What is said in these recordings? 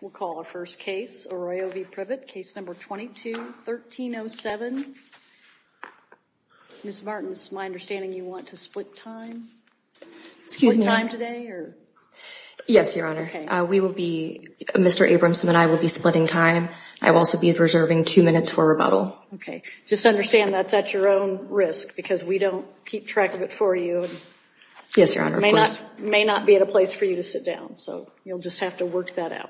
We'll call our first case, Arroyo v. Privett, case number 22-1307. Ms. Martins, it's my understanding you want to split time. Excuse me. Split time today or? Yes, Your Honor. Okay. We will be, Mr. Abramson and I will be splitting time. I will also be reserving two minutes for rebuttal. Okay. Just understand that's at your own risk because we don't keep track of it for you. Yes, Your Honor, of course. This may not be a place for you to sit down, so you'll just have to work that out.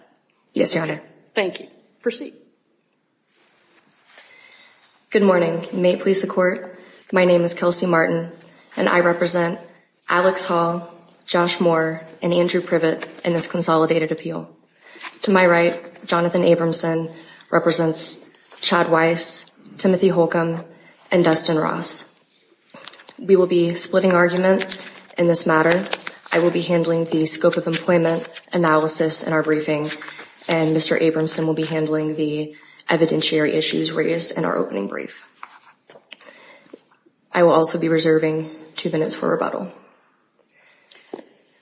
Yes, Your Honor. Thank you. Proceed. Good morning. May it please the Court, my name is Kelsey Martin, and I represent Alex Hall, Josh Moore, and Andrew Privett in this consolidated appeal. To my right, Jonathan Abramson represents Chad Weiss, Timothy Holcomb, and Dustin Ross. We will be splitting argument in this matter. I will be handling the scope of employment analysis in our briefing, and Mr. Abramson will be handling the evidentiary issues raised in our opening brief. I will also be reserving two minutes for rebuttal.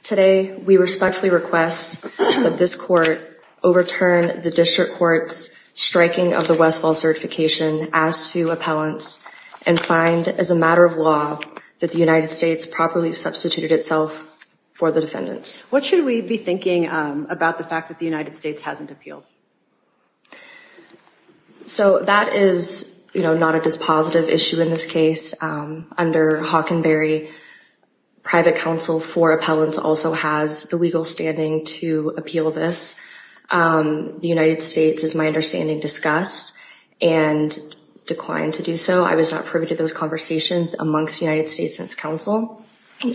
Today, we respectfully request that this Court overturn the District Court's striking of the Westfall certification as to appellants and find, as a matter of law, that the United States properly substituted itself for the defendants. What should we be thinking about the fact that the United States hasn't appealed? So that is not a dispositive issue in this case. Under Hockenberry, private counsel for appellants also has the legal standing to appeal this. The United States, as my understanding, discussed and declined to do so. I was not privy to those conversations amongst the United States and its counsel.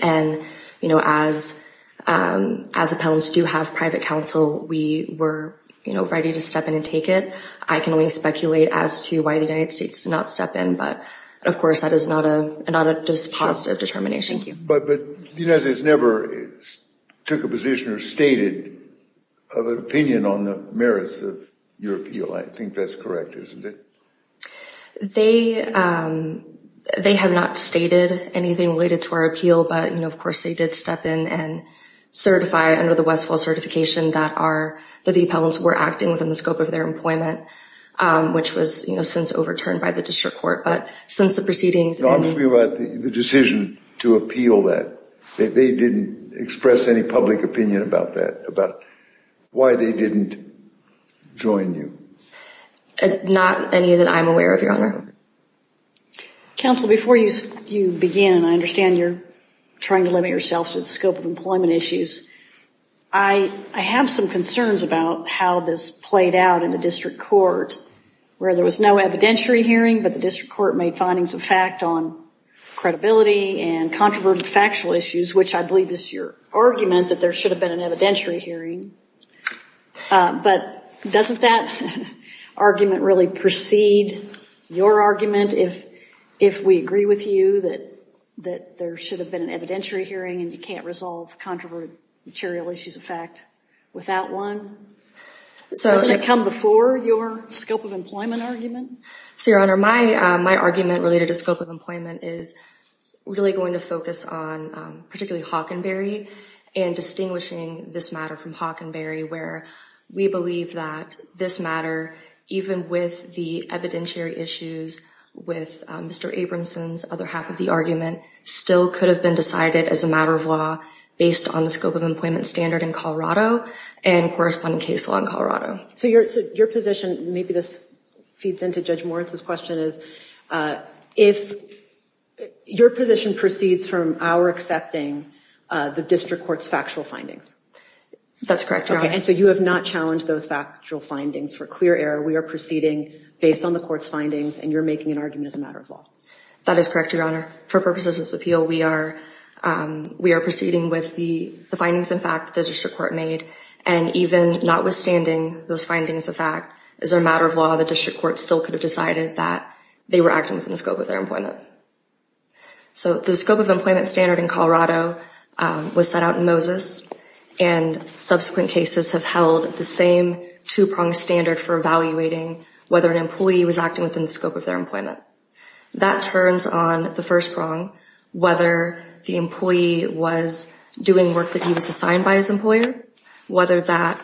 And, you know, as appellants do have private counsel, we were ready to step in and take it. I can only speculate as to why the United States did not step in. But, of course, that is not a dispositive determination. But the United States never took a position or stated an opinion on the merits of your appeal. I think that's correct, isn't it? They have not stated anything related to our appeal. But, of course, they did step in and certify under the Westfall certification that the appellants were acting within the scope of their employment, which was since overturned by the District Court. No, I'm talking about the decision to appeal that. They didn't express any public opinion about that, about why they didn't join you. Not any that I'm aware of, Your Honor. Counsel, before you begin, and I understand you're trying to limit yourself to the scope of employment issues, I have some concerns about how this played out in the District Court, where there was no evidentiary hearing, but the District Court made findings of fact on credibility and controverted factual issues, which I believe is your argument that there should have been an evidentiary hearing. But doesn't that argument really precede your argument if we agree with you that there should have been an evidentiary hearing and you can't resolve controverted material issues of fact without one? Doesn't it come before your scope of employment argument? So, Your Honor, my argument related to scope of employment is really going to focus on particularly Hockenberry and distinguishing this matter from Hockenberry, where we believe that this matter, even with the evidentiary issues with Mr. Abramson's other half of the argument, still could have been decided as a matter of law based on the scope of employment standard in Colorado and corresponding case law in Colorado. So your position, maybe this feeds into Judge Moritz's question, is if your position proceeds from our accepting the District Court's factual findings. That's correct, Your Honor. And so you have not challenged those factual findings for clear error. We are proceeding based on the Court's findings, and you're making an argument as a matter of law. That is correct, Your Honor. For purposes of this appeal, we are proceeding with the findings, in fact, that the District Court made, and even notwithstanding those findings of fact, as a matter of law, the District Court still could have decided that they were acting within the scope of their employment. So the scope of employment standard in Colorado was set out in Moses, and subsequent cases have held the same two-pronged standard for evaluating That turns on the first prong, whether the employee was doing work that he was assigned by his employer, or whether that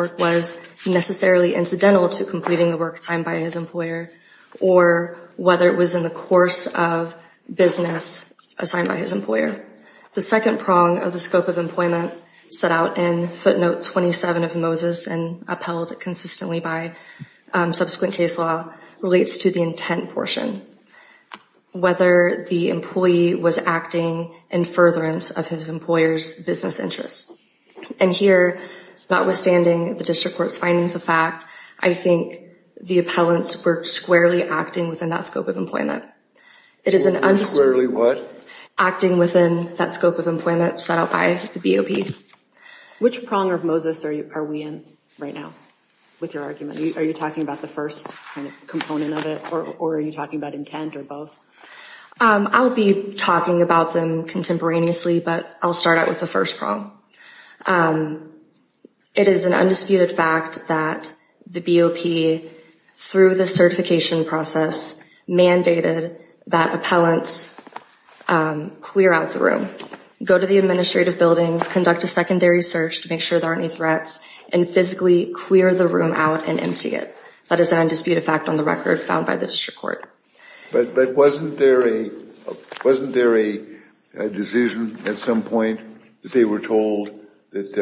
work was necessarily incidental to completing the work assigned by his employer, or whether it was in the course of business assigned by his employer. The second prong of the scope of employment set out in footnote 27 of Moses and upheld consistently by subsequent case law relates to the intent portion, whether the employee was acting in furtherance of his employer's business interests. And here, notwithstanding the District Court's findings of fact, I think the appellants were squarely acting within that scope of employment. Squarely what? Acting within that scope of employment set out by the BOP. Which prong of Moses are we in right now with your argument? Are you talking about the first component of it, or are you talking about intent or both? I'll be talking about them contemporaneously, but I'll start out with the first prong. It is an undisputed fact that the BOP, through the certification process, go to the administrative building, conduct a secondary search to make sure there aren't any threats, and physically clear the room out and empty it. That is an undisputed fact on the record found by the District Court. But wasn't there a decision at some point that they were told that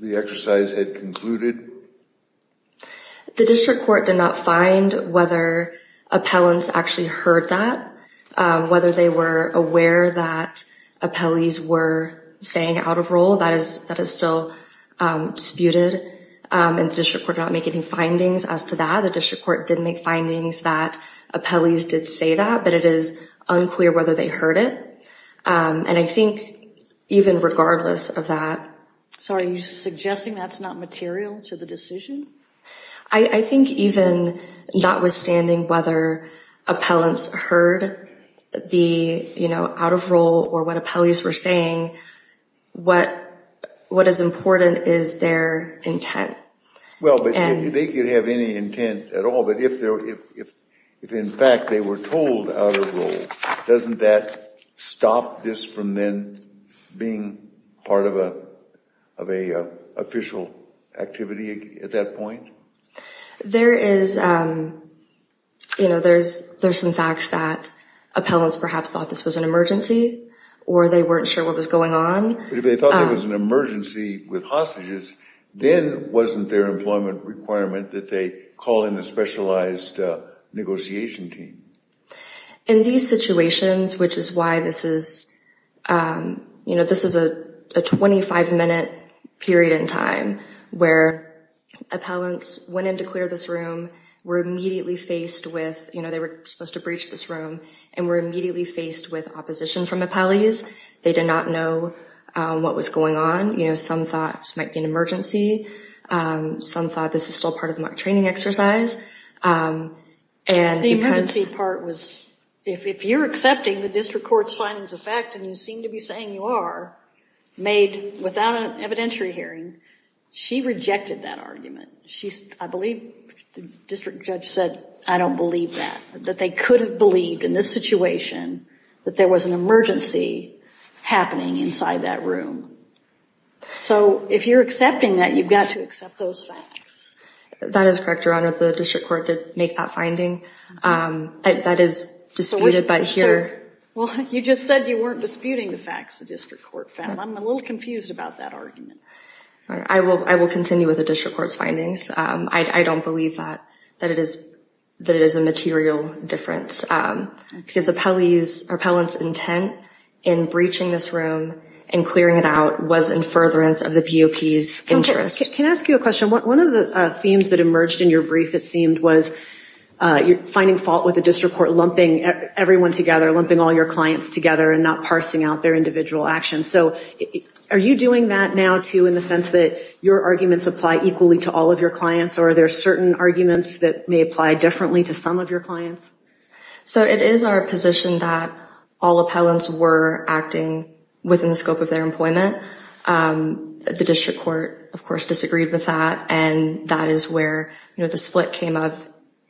the exercise had concluded? The District Court did not find whether appellants actually heard that, whether they were aware that appellees were staying out of role. That is still disputed, and the District Court did not make any findings as to that. The District Court did make findings that appellees did say that, but it is unclear whether they heard it. And I think even regardless of that. So are you suggesting that's not material to the decision? I think even notwithstanding whether appellants heard the, you know, out of role or what appellees were saying, what is important is their intent. Well, they could have any intent at all, but if in fact they were told out of role, doesn't that stop this from then being part of an official activity at that point? There is, you know, there's some facts that appellants perhaps thought this was an emergency or they weren't sure what was going on. But if they thought it was an emergency with hostages, then wasn't their employment requirement that they call in a specialized negotiation team? In these situations, which is why this is, you know, this is a 25-minute period in time where appellants went in to clear this room, were immediately faced with, you know, they were supposed to breach this room, and were immediately faced with opposition from appellees. They did not know what was going on. You know, some thought this might be an emergency. Some thought this is still part of the mock training exercise. The emergency part was if you're accepting the district court's findings of fact and you seem to be saying you are, made without an evidentiary hearing, she rejected that argument. I believe the district judge said, I don't believe that, that they could have believed in this situation that there was an emergency happening inside that room. So if you're accepting that, you've got to accept those facts. That is correct, Your Honor. The district court did make that finding. That is disputed by here. Well, you just said you weren't disputing the facts the district court found. I'm a little confused about that argument. I will continue with the district court's findings. I don't believe that, that it is a material difference, because appellants' intent in breaching this room and clearing it out was in furtherance of the POP's interest. Can I ask you a question? One of the themes that emerged in your brief, it seemed, was you're finding fault with the district court lumping everyone together, lumping all your clients together, and not parsing out their individual actions. So are you doing that now, too, in the sense that your arguments apply equally to all of your clients, or are there certain arguments that may apply differently to some of your clients? So it is our position that all appellants were acting within the scope of their employment. The district court, of course, disagreed with that, and that is where the split came up.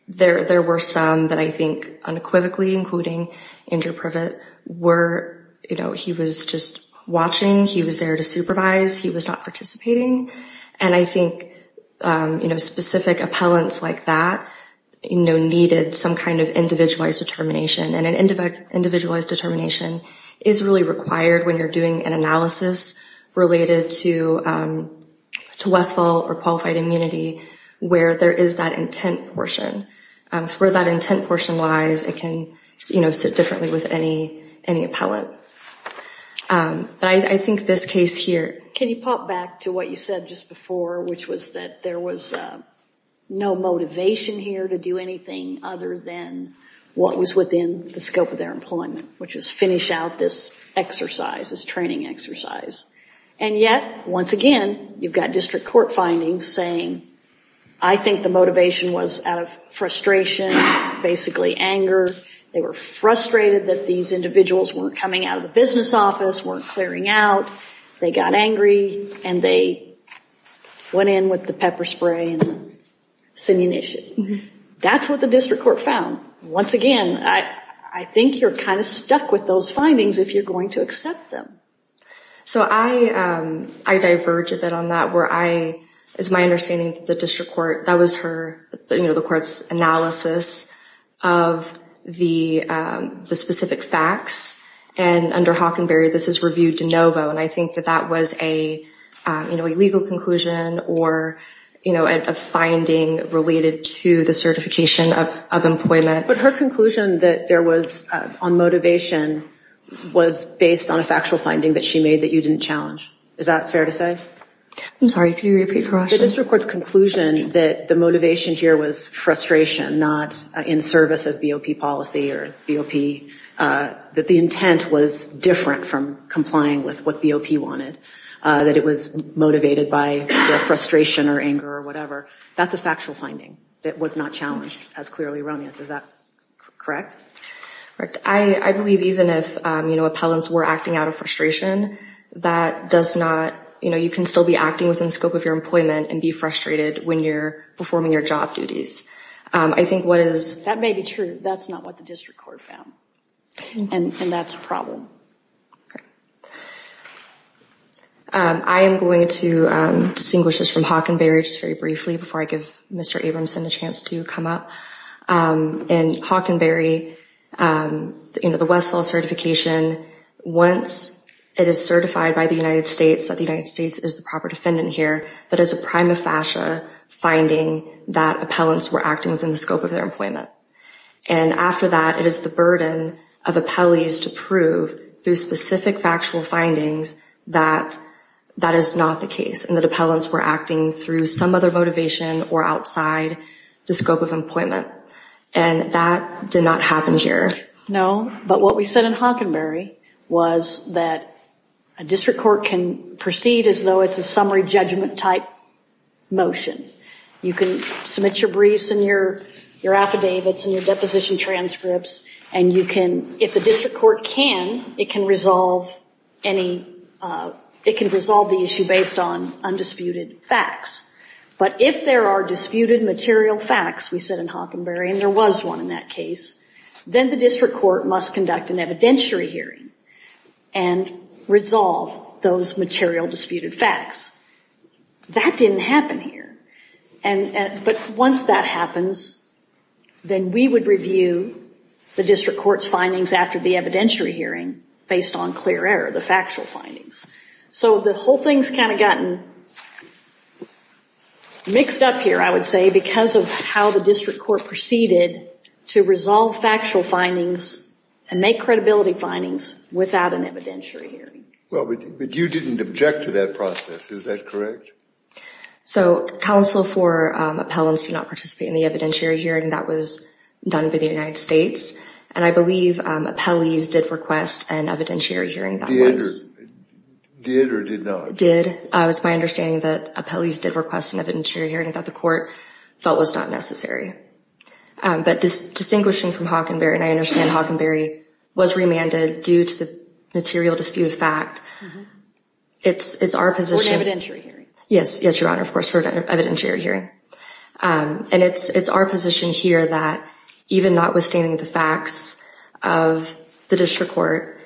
There were some that I think unequivocally, including Andrew Privet, were, you know, he was just watching. He was there to supervise. He was not participating. And I think, you know, specific appellants like that, you know, needed some kind of individualized determination. And an individualized determination is really required when you're doing an application related to Westfall or qualified immunity, where there is that intent portion. So where that intent portion lies, it can, you know, sit differently with any appellant. But I think this case here. Can you pop back to what you said just before, which was that there was no motivation here to do anything other than what was within the scope of their employment, which was finish out this exercise, this training exercise. And yet, once again, you've got district court findings saying, I think the motivation was out of frustration, basically anger. They were frustrated that these individuals weren't coming out of the business office, weren't clearing out. They got angry and they went in with the pepper spray and the simulation. That's what the district court found. Once again, I think you're kind of stuck with those findings if you're going to accept them. So I diverge a bit on that, where I, is my understanding that the district court, that was her, you know, the court's analysis of the specific facts. And under Hockenberry, this is reviewed de novo. And I think that that was a, you know, a legal conclusion or, you know, a finding related to the certification of employment. But her conclusion that there was on motivation was based on a factual finding that she made that you didn't challenge. Is that fair to say? I'm sorry, can you repeat the question? The district court's conclusion that the motivation here was frustration, not in service of BOP policy or BOP, that the intent was different from complying with what BOP wanted, that it was motivated by frustration or anger or whatever. That's a factual finding that was not challenged as clearly run as, is that correct? Correct. I believe even if, you know, appellants were acting out of frustration, that does not, you know, you can still be acting within the scope of your employment and be frustrated when you're performing your job duties. I think what is. That's not what the district court found. And that's a problem. I am going to distinguish this from Hockenberry just very briefly before I give Mr. Abramson a chance to come up. And Hockenberry, you know, the Westfall certification, once it is certified by the United States that the United States is the proper defendant here, that is a prima facie finding that appellants were acting within the scope of their employment. And after that, it is the burden of appellees to prove through specific factual findings that that is not the case. And the appellants were acting through some other motivation or outside the scope of employment. And that did not happen here. No. But what we said in Hockenberry was that a district court can proceed as though it's a summary judgment type motion. You can submit your briefs and your, your affidavits and your deposition transcripts. And you can, if the district court can, it can resolve any, it can resolve the issue based on undisputed facts. But if there are disputed material facts, we said in Hockenberry, and there was one in that case, then the district court must conduct an evidentiary hearing and resolve those material disputed facts. That didn't happen here. But once that happens, then we would review the district court's findings after the evidentiary hearing based on clear error, the factual findings. So the whole thing's kind of gotten mixed up here, I would say, because of how the district court proceeded to resolve factual findings and make credibility findings without an evidentiary hearing. Well, but you didn't object to that process. Is that correct? So counsel for appellants do not participate in the evidentiary hearing that was done by the United States. And I believe appellees did request an evidentiary hearing. Did or did not? Did. It's my understanding that appellees did request an evidentiary hearing that the court felt was not necessary. But distinguishing from Hockenberry, and I understand Hockenberry was remanded due to the material disputed fact, it's our position. For an evidentiary hearing. Yes. Yes, Your Honor, of course, for an evidentiary hearing. And it's our position here that even notwithstanding the facts of the district court,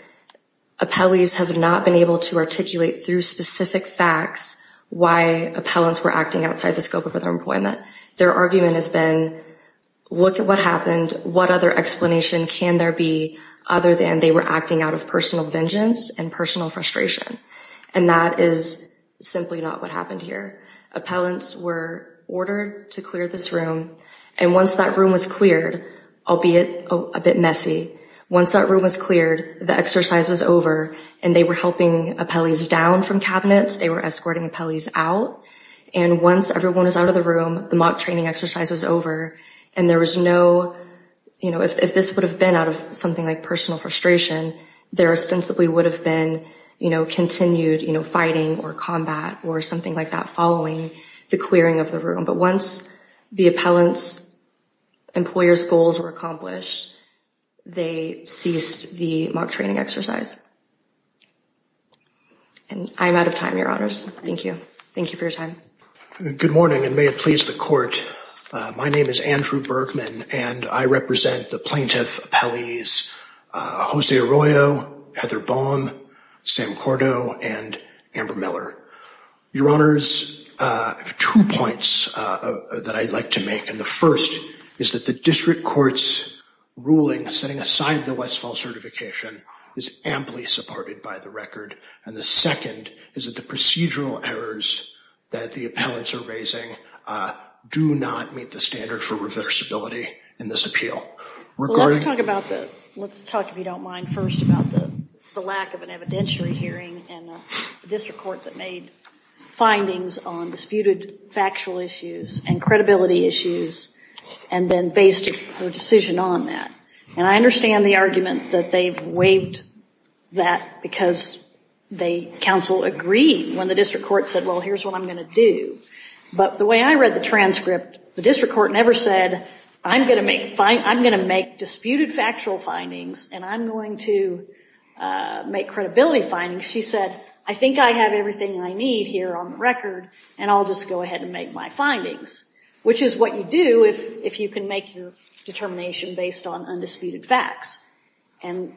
appellees have not been able to articulate through specific facts why appellants were acting outside the scope of their employment. Their argument has been, look at what happened. What other explanation can there be other than they were acting out of personal vengeance and personal frustration. And that is simply not what happened here. Appellants were ordered to clear this room. And once that room was cleared, albeit a bit messy, once that room was cleared, the exercise was over. And they were helping appellees down from cabinets. They were escorting appellees out. And once everyone was out of the room, the mock training exercise was over. And there was no, you know, if this would have been out of something like personal frustration, there ostensibly would have been, you know, continued, you know, fighting or combat or something like that following the clearing of the room. But once the appellant's employer's goals were accomplished, they ceased the mock training exercise. And I'm out of time, Your Honors. Thank you. Thank you for your time. Good morning and may it please the court. My name is Andrew Bergman and I represent the plaintiff appellees, Jose Arroyo, Heather Baum, Sam Cordo, and Amber Miller. Your Honors, I have two points that I'd like to make. And the first is that the district court's ruling setting aside the West Falls certification is amply supported by the record. And the second is that the procedural errors that the appellants are raising do not meet the standard for reversibility in this appeal. Well, let's talk about the... let's talk, if you don't mind, first about the lack of an evidentiary hearing in the district court that made findings on disputed factual issues and credibility issues and then based her decision on that. And I understand the argument that they've waived that because the counsel agreed when the district court said, well, here's what I'm going to do. But the way I read the transcript, the district court never said, I'm going to make disputed factual findings and I'm going to make credibility findings. She said, I think I have everything I need here on the record and I'll just go ahead and make my findings, which is what you do if you can make your determination based on undisputed facts. And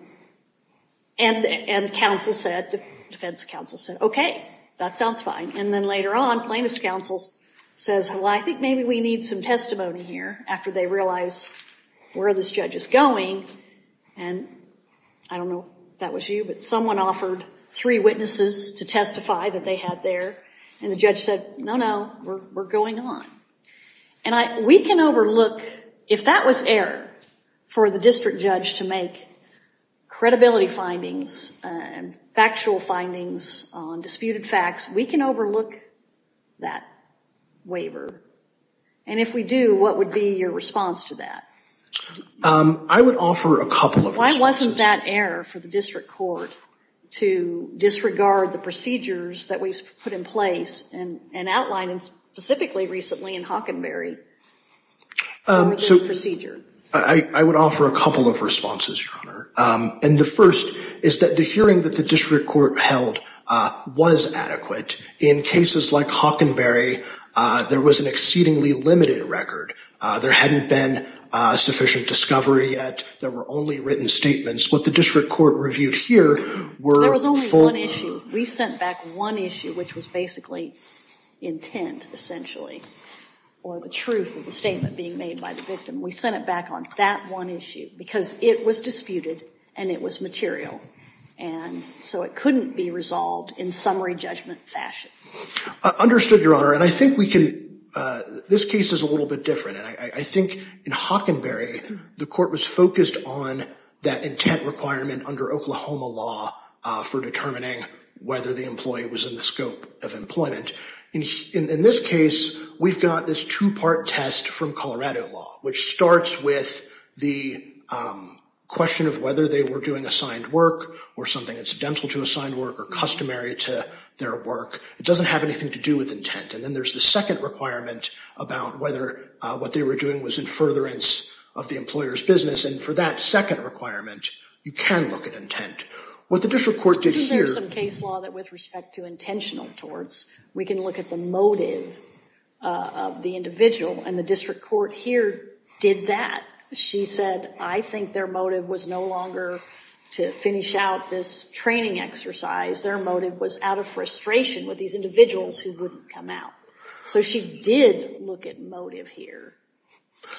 counsel said, defense counsel said, okay, that sounds fine. And then later on plaintiff's counsel says, well, I think maybe we need some testimony here after they realize where this judge is going. And I don't know if that was you, but someone offered three witnesses to testify that they had there and the judge said, no, no, we're going on. And we can overlook, if that was error for the district judge to make credibility findings and factual findings on disputed facts, we can overlook that waiver. And if we do, what would be your response to that? I would offer a couple of reasons. Why wasn't that error for the district court to disregard the procedures that we've put in place and outlined specifically recently in Hockenberry on this procedure? I would offer a couple of responses, Your Honor. And the first is that the hearing that the district court held was adequate. In cases like Hockenberry, there was an exceedingly limited record. There hadn't been sufficient discovery yet. There were only written statements. What the district court reviewed here were full. There was only one issue. We sent back one issue, which was basically intent, essentially, or the truth of the statement being made by the victim. We sent it back on that one issue because it was disputed, and it was material. And so it couldn't be resolved in summary judgment fashion. Understood, Your Honor. And I think we can, this case is a little bit different. And I think in Hockenberry, the court was focused on that intent requirement under Oklahoma law for determining whether the employee was in the scope of employment. In this case, we've got this two-part test from Colorado law, which starts with the question of whether they were doing assigned work or something incidental to assigned work or customary to their work. It doesn't have anything to do with intent. And then there's the second requirement about whether what they were doing was in furtherance of the employer's business. And for that second requirement, you can look at intent. What the district court did here — Isn't there some case law that with respect to intentional torts, we can look at the motive of the individual? And the district court here did that. She said, I think their motive was no longer to finish out this training exercise. Their motive was out of frustration with these individuals who wouldn't come out. So she did look at motive here.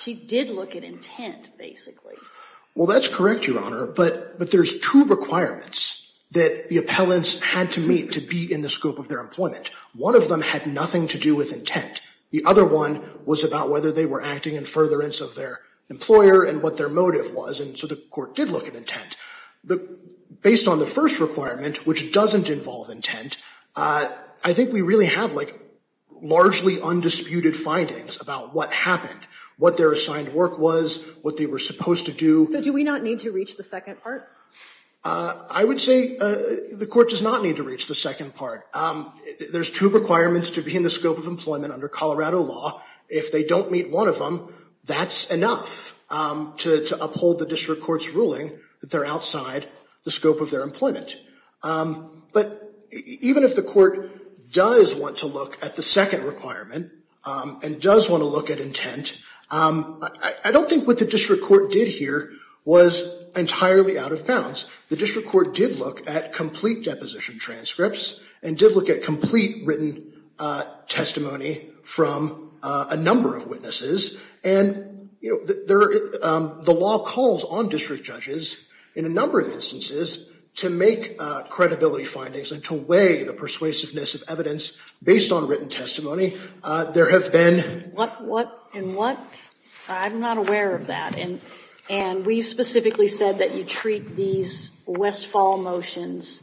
She did look at intent, basically. Well, that's correct, Your Honor. But there's two requirements that the appellants had to meet to be in the scope of their employment. One of them had nothing to do with intent. The other one was about whether they were acting in furtherance of their employer and what their motive was. And so the court did look at intent. Based on the first requirement, which doesn't involve intent, I think we really have, like, largely undisputed findings about what happened, what their assigned work was, what they were supposed to do. So do we not need to reach the second part? I would say the court does not need to reach the second part. There's two requirements to be in the scope of employment under Colorado law. If they don't meet one of them, that's enough to uphold the district court's ruling that they're outside the scope of their employment. But even if the court does want to look at the second requirement and does want to look at intent, I don't think what the district court did here was entirely out of bounds. In fact, the district court did look at complete deposition transcripts and did look at complete written testimony from a number of witnesses. And, you know, the law calls on district judges in a number of instances to make credibility findings and to weigh the persuasiveness of evidence based on written testimony. There have been... What, what, and what? I'm not aware of that. And we specifically said that you treat these Westfall motions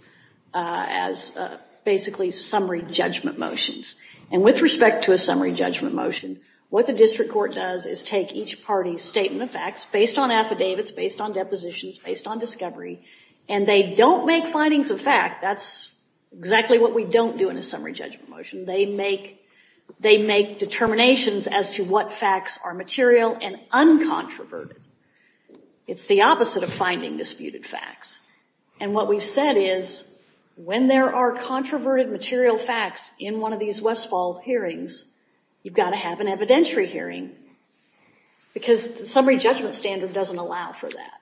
as basically summary judgment motions. And with respect to a summary judgment motion, what the district court does is take each party's statement of facts based on affidavits, based on depositions, based on discovery, and they don't make findings of fact. That's exactly what we don't do in a summary judgment motion. They make determinations as to what facts are material and uncontroverted. It's the opposite of finding disputed facts. And what we've said is when there are controverted material facts in one of these Westfall hearings, you've got to have an evidentiary hearing because the summary judgment standard doesn't allow for that.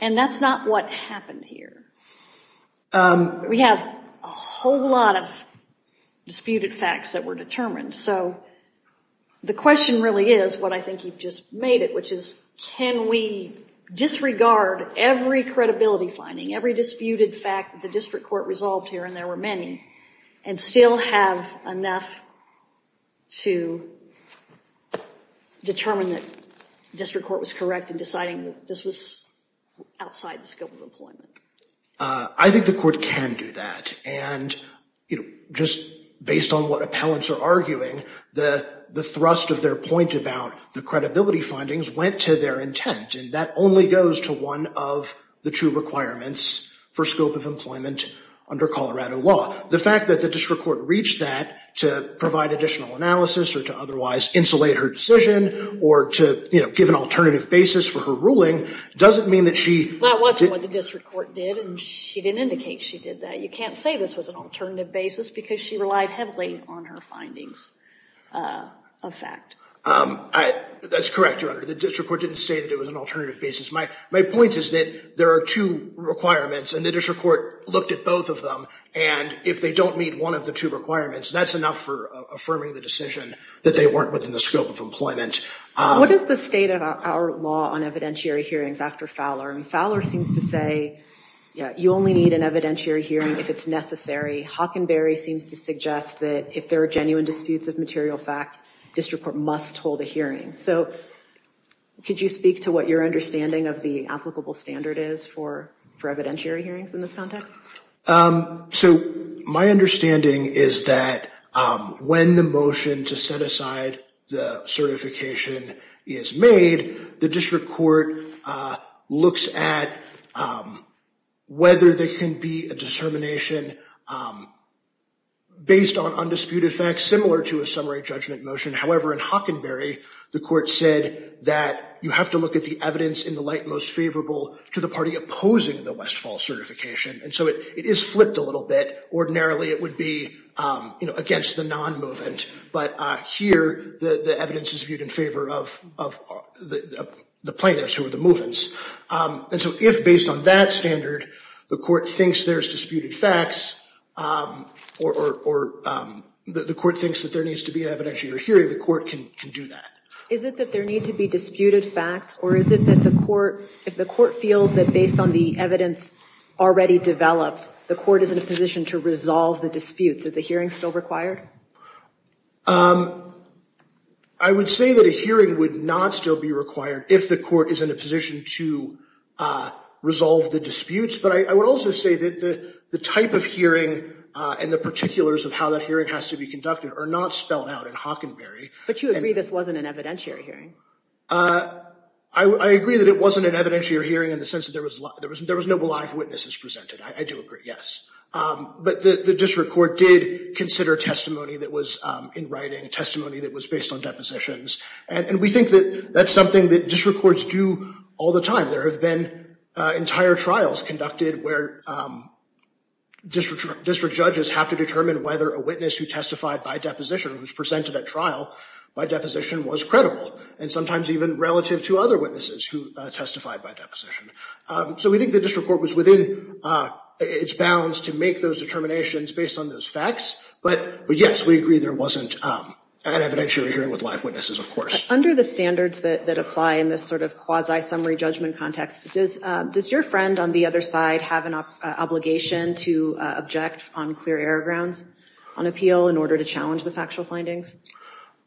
And that's not what happened here. We have a whole lot of disputed facts that were determined. So the question really is what I think you've just made it, which is can we disregard every credibility finding, every disputed fact that the district court resolved here, and there were many, and still have enough to determine that the district court was correct in deciding that this was outside the scope of employment? I think the court can do that. And, you know, just based on what appellants are arguing, the thrust of their point about the credibility findings went to their intent, and that only goes to one of the two requirements for scope of employment under Colorado law. The fact that the district court reached that to provide additional analysis or to otherwise insulate her decision or to, you know, give an alternative basis for her ruling doesn't mean that she didn't indicate she did that. You can't say this was an alternative basis because she relied heavily on her findings of fact. That's correct, Your Honor. The district court didn't say that it was an alternative basis. My point is that there are two requirements, and the district court looked at both of them, and if they don't meet one of the two requirements, that's enough for affirming the decision that they weren't within the scope of employment. What is the state of our law on evidentiary hearings after Fowler? I mean, Fowler seems to say, yeah, you only need an evidentiary hearing if it's necessary. Hockenberry seems to suggest that if there are genuine disputes of material fact, district court must hold a hearing. So could you speak to what your understanding of the applicable standard is for evidentiary hearings in this context? So my understanding is that when the motion to set aside the certification is made, the district court looks at whether there can be a determination based on undisputed facts similar to a summary judgment motion. However, in Hockenberry, the court said that you have to look at the evidence in the light most favorable to the party opposing the Westfall certification, and so it is flipped a little bit. Ordinarily, it would be against the non-movement, but here the evidence is viewed in favor of the plaintiffs who are the movements. And so if, based on that standard, the court thinks there's disputed facts or the court thinks that there needs to be an evidentiary hearing, the court can do that. Is it that there need to be disputed facts, or is it that if the court feels that based on the evidence already developed, the court is in a position to resolve the disputes? Is a hearing still required? I would say that a hearing would not still be required if the court is in a position to resolve the disputes, but I would also say that the type of hearing and the particulars of how that hearing has to be conducted are not spelled out in Hockenberry. But you agree this wasn't an evidentiary hearing? I agree that it wasn't an evidentiary hearing in the sense that there was no live witnesses presented. I do agree, yes. But the district court did consider testimony that was in writing, testimony that was based on depositions, and we think that that's something that district courts do all the time. There have been entire trials conducted where district judges have to determine whether a witness who testified by deposition, who was presented at trial by deposition, was credible, and sometimes even relative to other witnesses who testified by deposition. So we think the district court was within its bounds to make those determinations based on those facts, but yes, we agree there wasn't an evidentiary hearing with live witnesses, of course. Under the standards that apply in this sort of quasi-summary judgment context, does your friend on the other side have an obligation to object on clear error grounds on appeal in order to challenge the factual findings?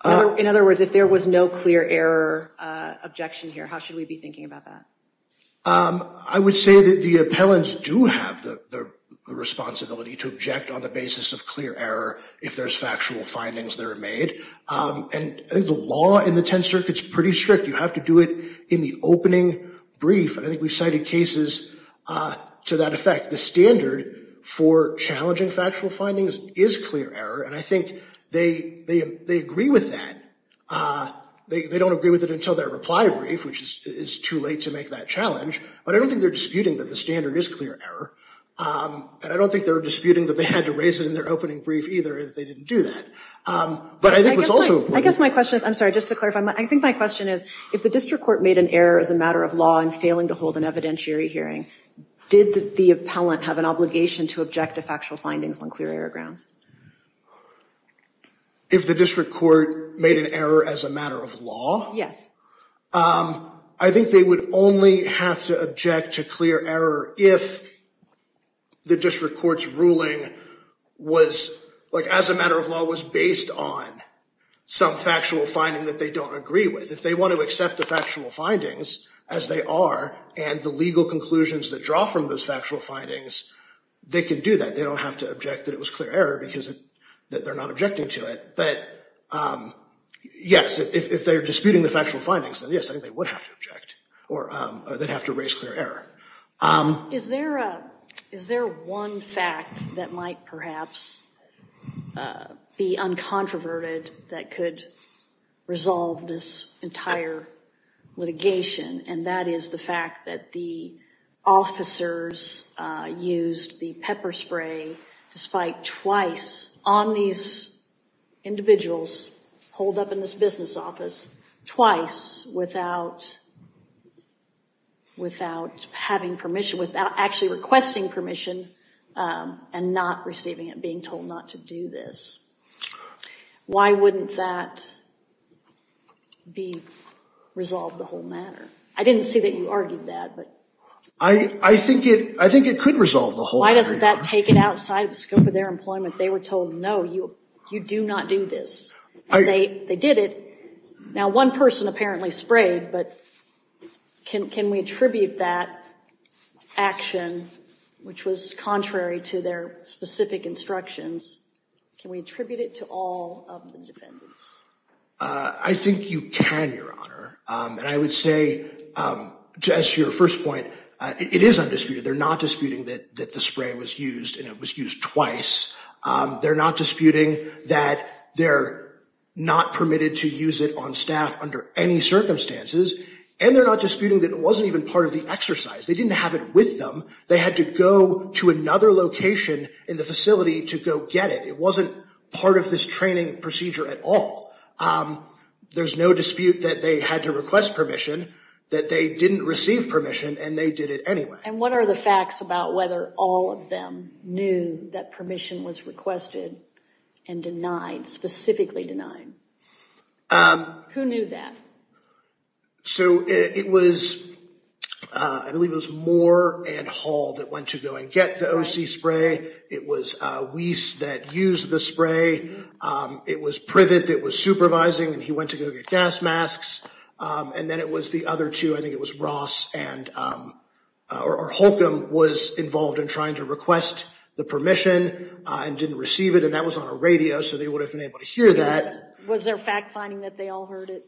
In other words, if there was no clear error objection here, how should we be thinking about that? I would say that the appellants do have the responsibility to object on the basis of clear error if there's factual findings that are made, and I think the law in the Tenth Circuit's pretty strict. You have to do it in the opening brief, and I think we've cited cases to that effect. The standard for challenging factual findings is clear error, and I think they agree with that. They don't agree with it until their reply brief, which is too late to make that challenge, but I don't think they're disputing that the standard is clear error, and I don't think they're disputing that they had to raise it in their opening brief either if they didn't do that, but I think it's also important. I guess my question is, I'm sorry, just to clarify, I think my question is, if the district court made an error as a matter of law in failing to hold an evidentiary hearing, did the appellant have an obligation to object to factual findings on clear error grounds? If the district court made an error as a matter of law? Yes. I think they would only have to object to clear error if the district court's ruling as a matter of law was based on some factual finding that they don't agree with. If they want to accept the factual findings as they are and the legal conclusions that draw from those factual findings, they can do that. They don't have to object that it was clear error because they're not objecting to it, but yes, if they're disputing the factual findings, then yes, I think they would have to object or they'd have to raise clear error. Is there one fact that might perhaps be uncontroverted that could resolve this entire litigation and that is the fact that the officers used the pepper spray despite twice on these individuals holed up in this business office, twice without having permission, without actually requesting permission and not receiving it, being told not to do this. Why wouldn't that be resolved the whole matter? I didn't see that you argued that. I think it could resolve the whole matter. Why doesn't that take it outside the scope of their employment? They were told, no, you do not do this. They did it. Now, one person apparently sprayed, but can we attribute that action, which was contrary to their specific instructions, can we attribute it to all of the defendants? I think you can, Your Honor. And I would say, to answer your first point, it is undisputed. They're not disputing that the spray was used and it was used twice. They're not disputing that they're not permitted to use it on staff under any circumstances. And they're not disputing that it wasn't even part of the exercise. They didn't have it with them. They had to go to another location in the facility to go get it. It wasn't part of this training procedure at all. There's no dispute that they had to request permission, that they didn't receive permission, and they did it anyway. And what are the facts about whether all of them knew that permission was requested and denied, specifically denied? Who knew that? So it was, I believe it was Moore and Hall that went to go and get the OC spray. It was Weiss that used the spray. It was Privet that was supervising, and he went to go get gas masks. And then it was the other two. I think it was Ross and, or Holcomb, was involved in trying to request the permission and didn't receive it. And that was on a radio, so they would have been able to hear that. Was there fact finding that they all heard it?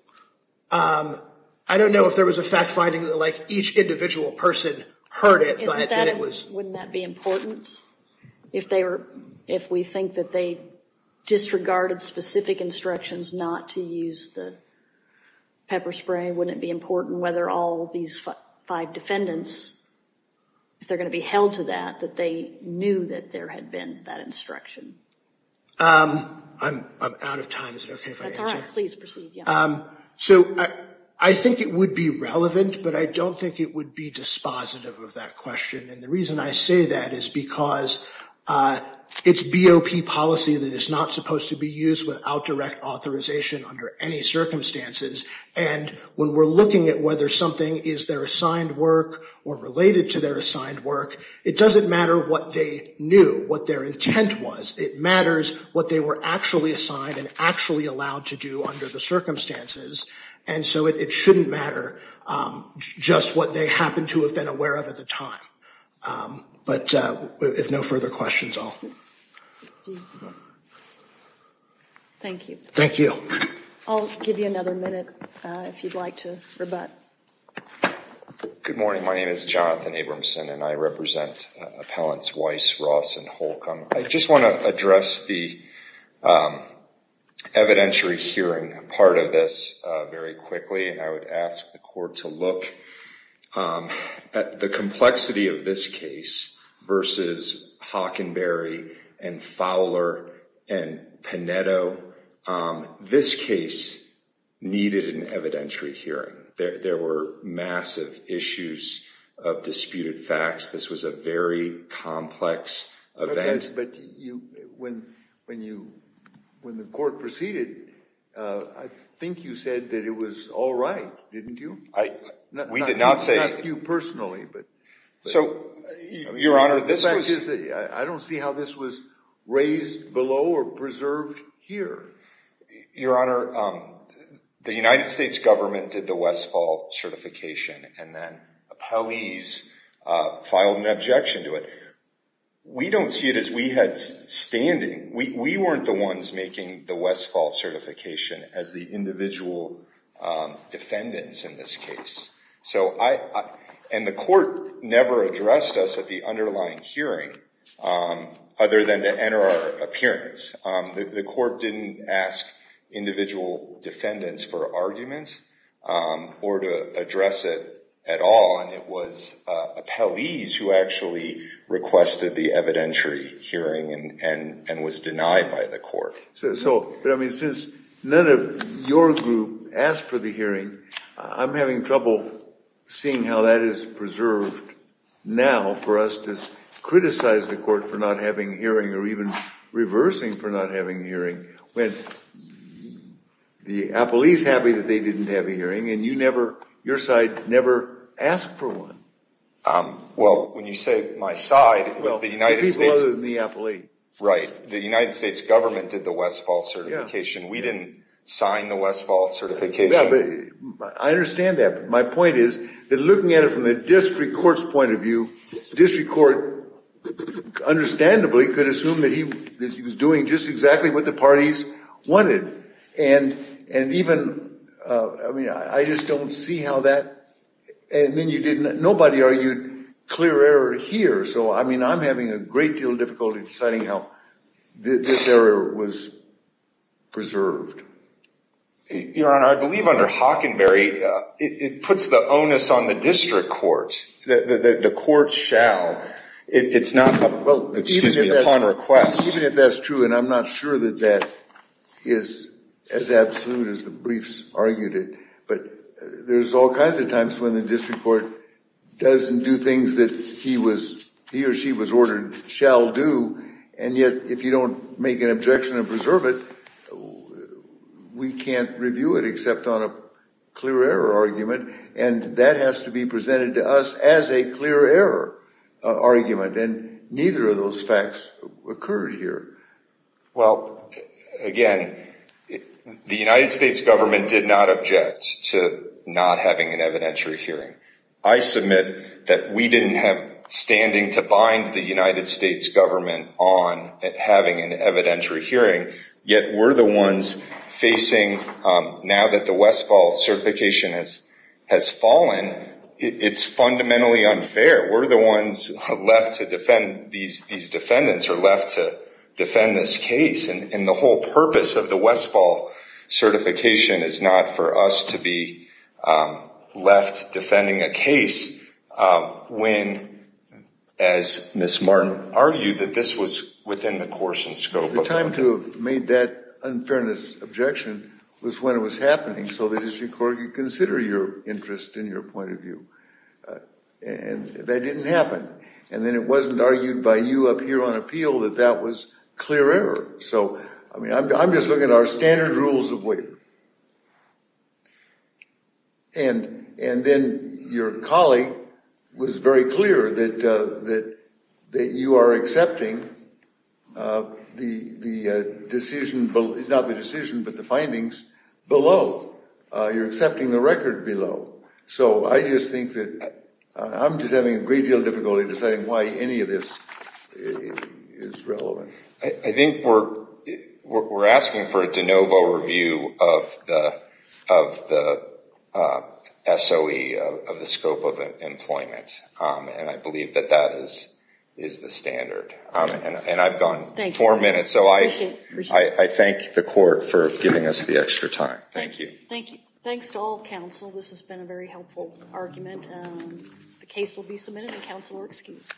I don't know if there was a fact finding that each individual person heard it. Wouldn't that be important? If we think that they disregarded specific instructions not to use the pepper spray, wouldn't it be important whether all of these five defendants, if they're going to be held to that, that they knew that there had been that instruction? I'm out of time. Is it OK if I answer? That's all right. Please proceed. So I think it would be relevant, but I don't think it would be dispositive of that question. And the reason I say that is because it's BOP policy that is not supposed to be used without direct authorization under any circumstances. And when we're looking at whether something is their assigned work or related to their assigned work, it doesn't matter what they knew, what their intent was. It matters what they were actually assigned and actually allowed to do under the circumstances. And so it shouldn't matter just what they happened to have been aware of at the time. But if no further questions, I'll. Thank you. Thank you. I'll give you another minute if you'd like to rebut. Good morning. My name is Jonathan Abramson, and I represent appellants Weiss, Ross, and Holcomb. I just want to address the evidentiary hearing part of this very quickly. And I would ask the court to look at the complexity of this case versus Hockenberry and Fowler and Panetto. This case needed an evidentiary hearing. There were massive issues of disputed facts. This was a very complex event. But when the court proceeded, I think you said that it was all right, didn't you? We did not say. Not you personally, but. So, Your Honor, this was. I don't see how this was raised below or preserved here. Your Honor, the United States government did the Westfall certification, and then appellees filed an objection to it. We don't see it as we had standing. We weren't the ones making the Westfall certification as the individual defendants in this case. And the court never addressed us at the underlying hearing other than to enter our appearance. The court didn't ask individual defendants for argument or to address it at all. And it was appellees who actually requested the evidentiary hearing and was denied by the court. Since none of your group asked for the hearing, I'm having trouble seeing how that is preserved now for us to criticize the court for not having a hearing or even reversing for not having a hearing when the appellee's happy that they didn't have a hearing and your side never asked for one. Well, when you say my side, it was the United States. Well, it'd be better than the appellee. Right. The United States government did the Westfall certification. We didn't sign the Westfall certification. I understand that, but my point is that looking at it from a district court's point of view, district court, understandably, could assume that he was doing just exactly what the parties wanted. And even, I mean, I just don't see how that, and then you didn't, nobody argued clear error here. So, I mean, I'm having a great deal of difficulty deciding how this error was preserved. Your Honor, I believe under Hockenberry, it puts the onus on the district court. The court shall. It's not, excuse me, upon request. Even if that's true, and I'm not sure that that is as absolute as the briefs argued it, but there's all kinds of times when the district court doesn't do things that he or she was ordered shall do, and yet if you don't make an objection and preserve it, we can't review it except on a clear error argument, and that has to be presented to us as a clear error argument, and neither of those facts occurred here. Well, again, the United States government did not object to not having an evidentiary hearing. I submit that we didn't have standing to bind the United States government on having an evidentiary hearing, yet we're the ones facing, now that the Westfall certification has fallen, it's fundamentally unfair. We're the ones left to defend. These defendants are left to defend this case, and the whole purpose of the Westfall certification is not for us to be left defending a case when, as Ms. Martin argued, that this was within the course and scope of the court. The only time to have made that unfairness objection was when it was happening so the district court could consider your interest and your point of view, and that didn't happen, and then it wasn't argued by you up here on appeal that that was clear error. So, I mean, I'm just looking at our standard rules of waiver, and then your colleague was very clear that you are accepting the decision, not the decision, but the findings below. You're accepting the record below. So I just think that I'm just having a great deal of difficulty deciding why any of this is relevant. I think we're asking for a de novo review of the SOE, of the scope of employment, and I believe that that is the standard. And I've gone four minutes, so I thank the court for giving us the extra time. Thank you. Thank you. Thanks to all counsel. This has been a very helpful argument. The case will be submitted, and counsel are excused.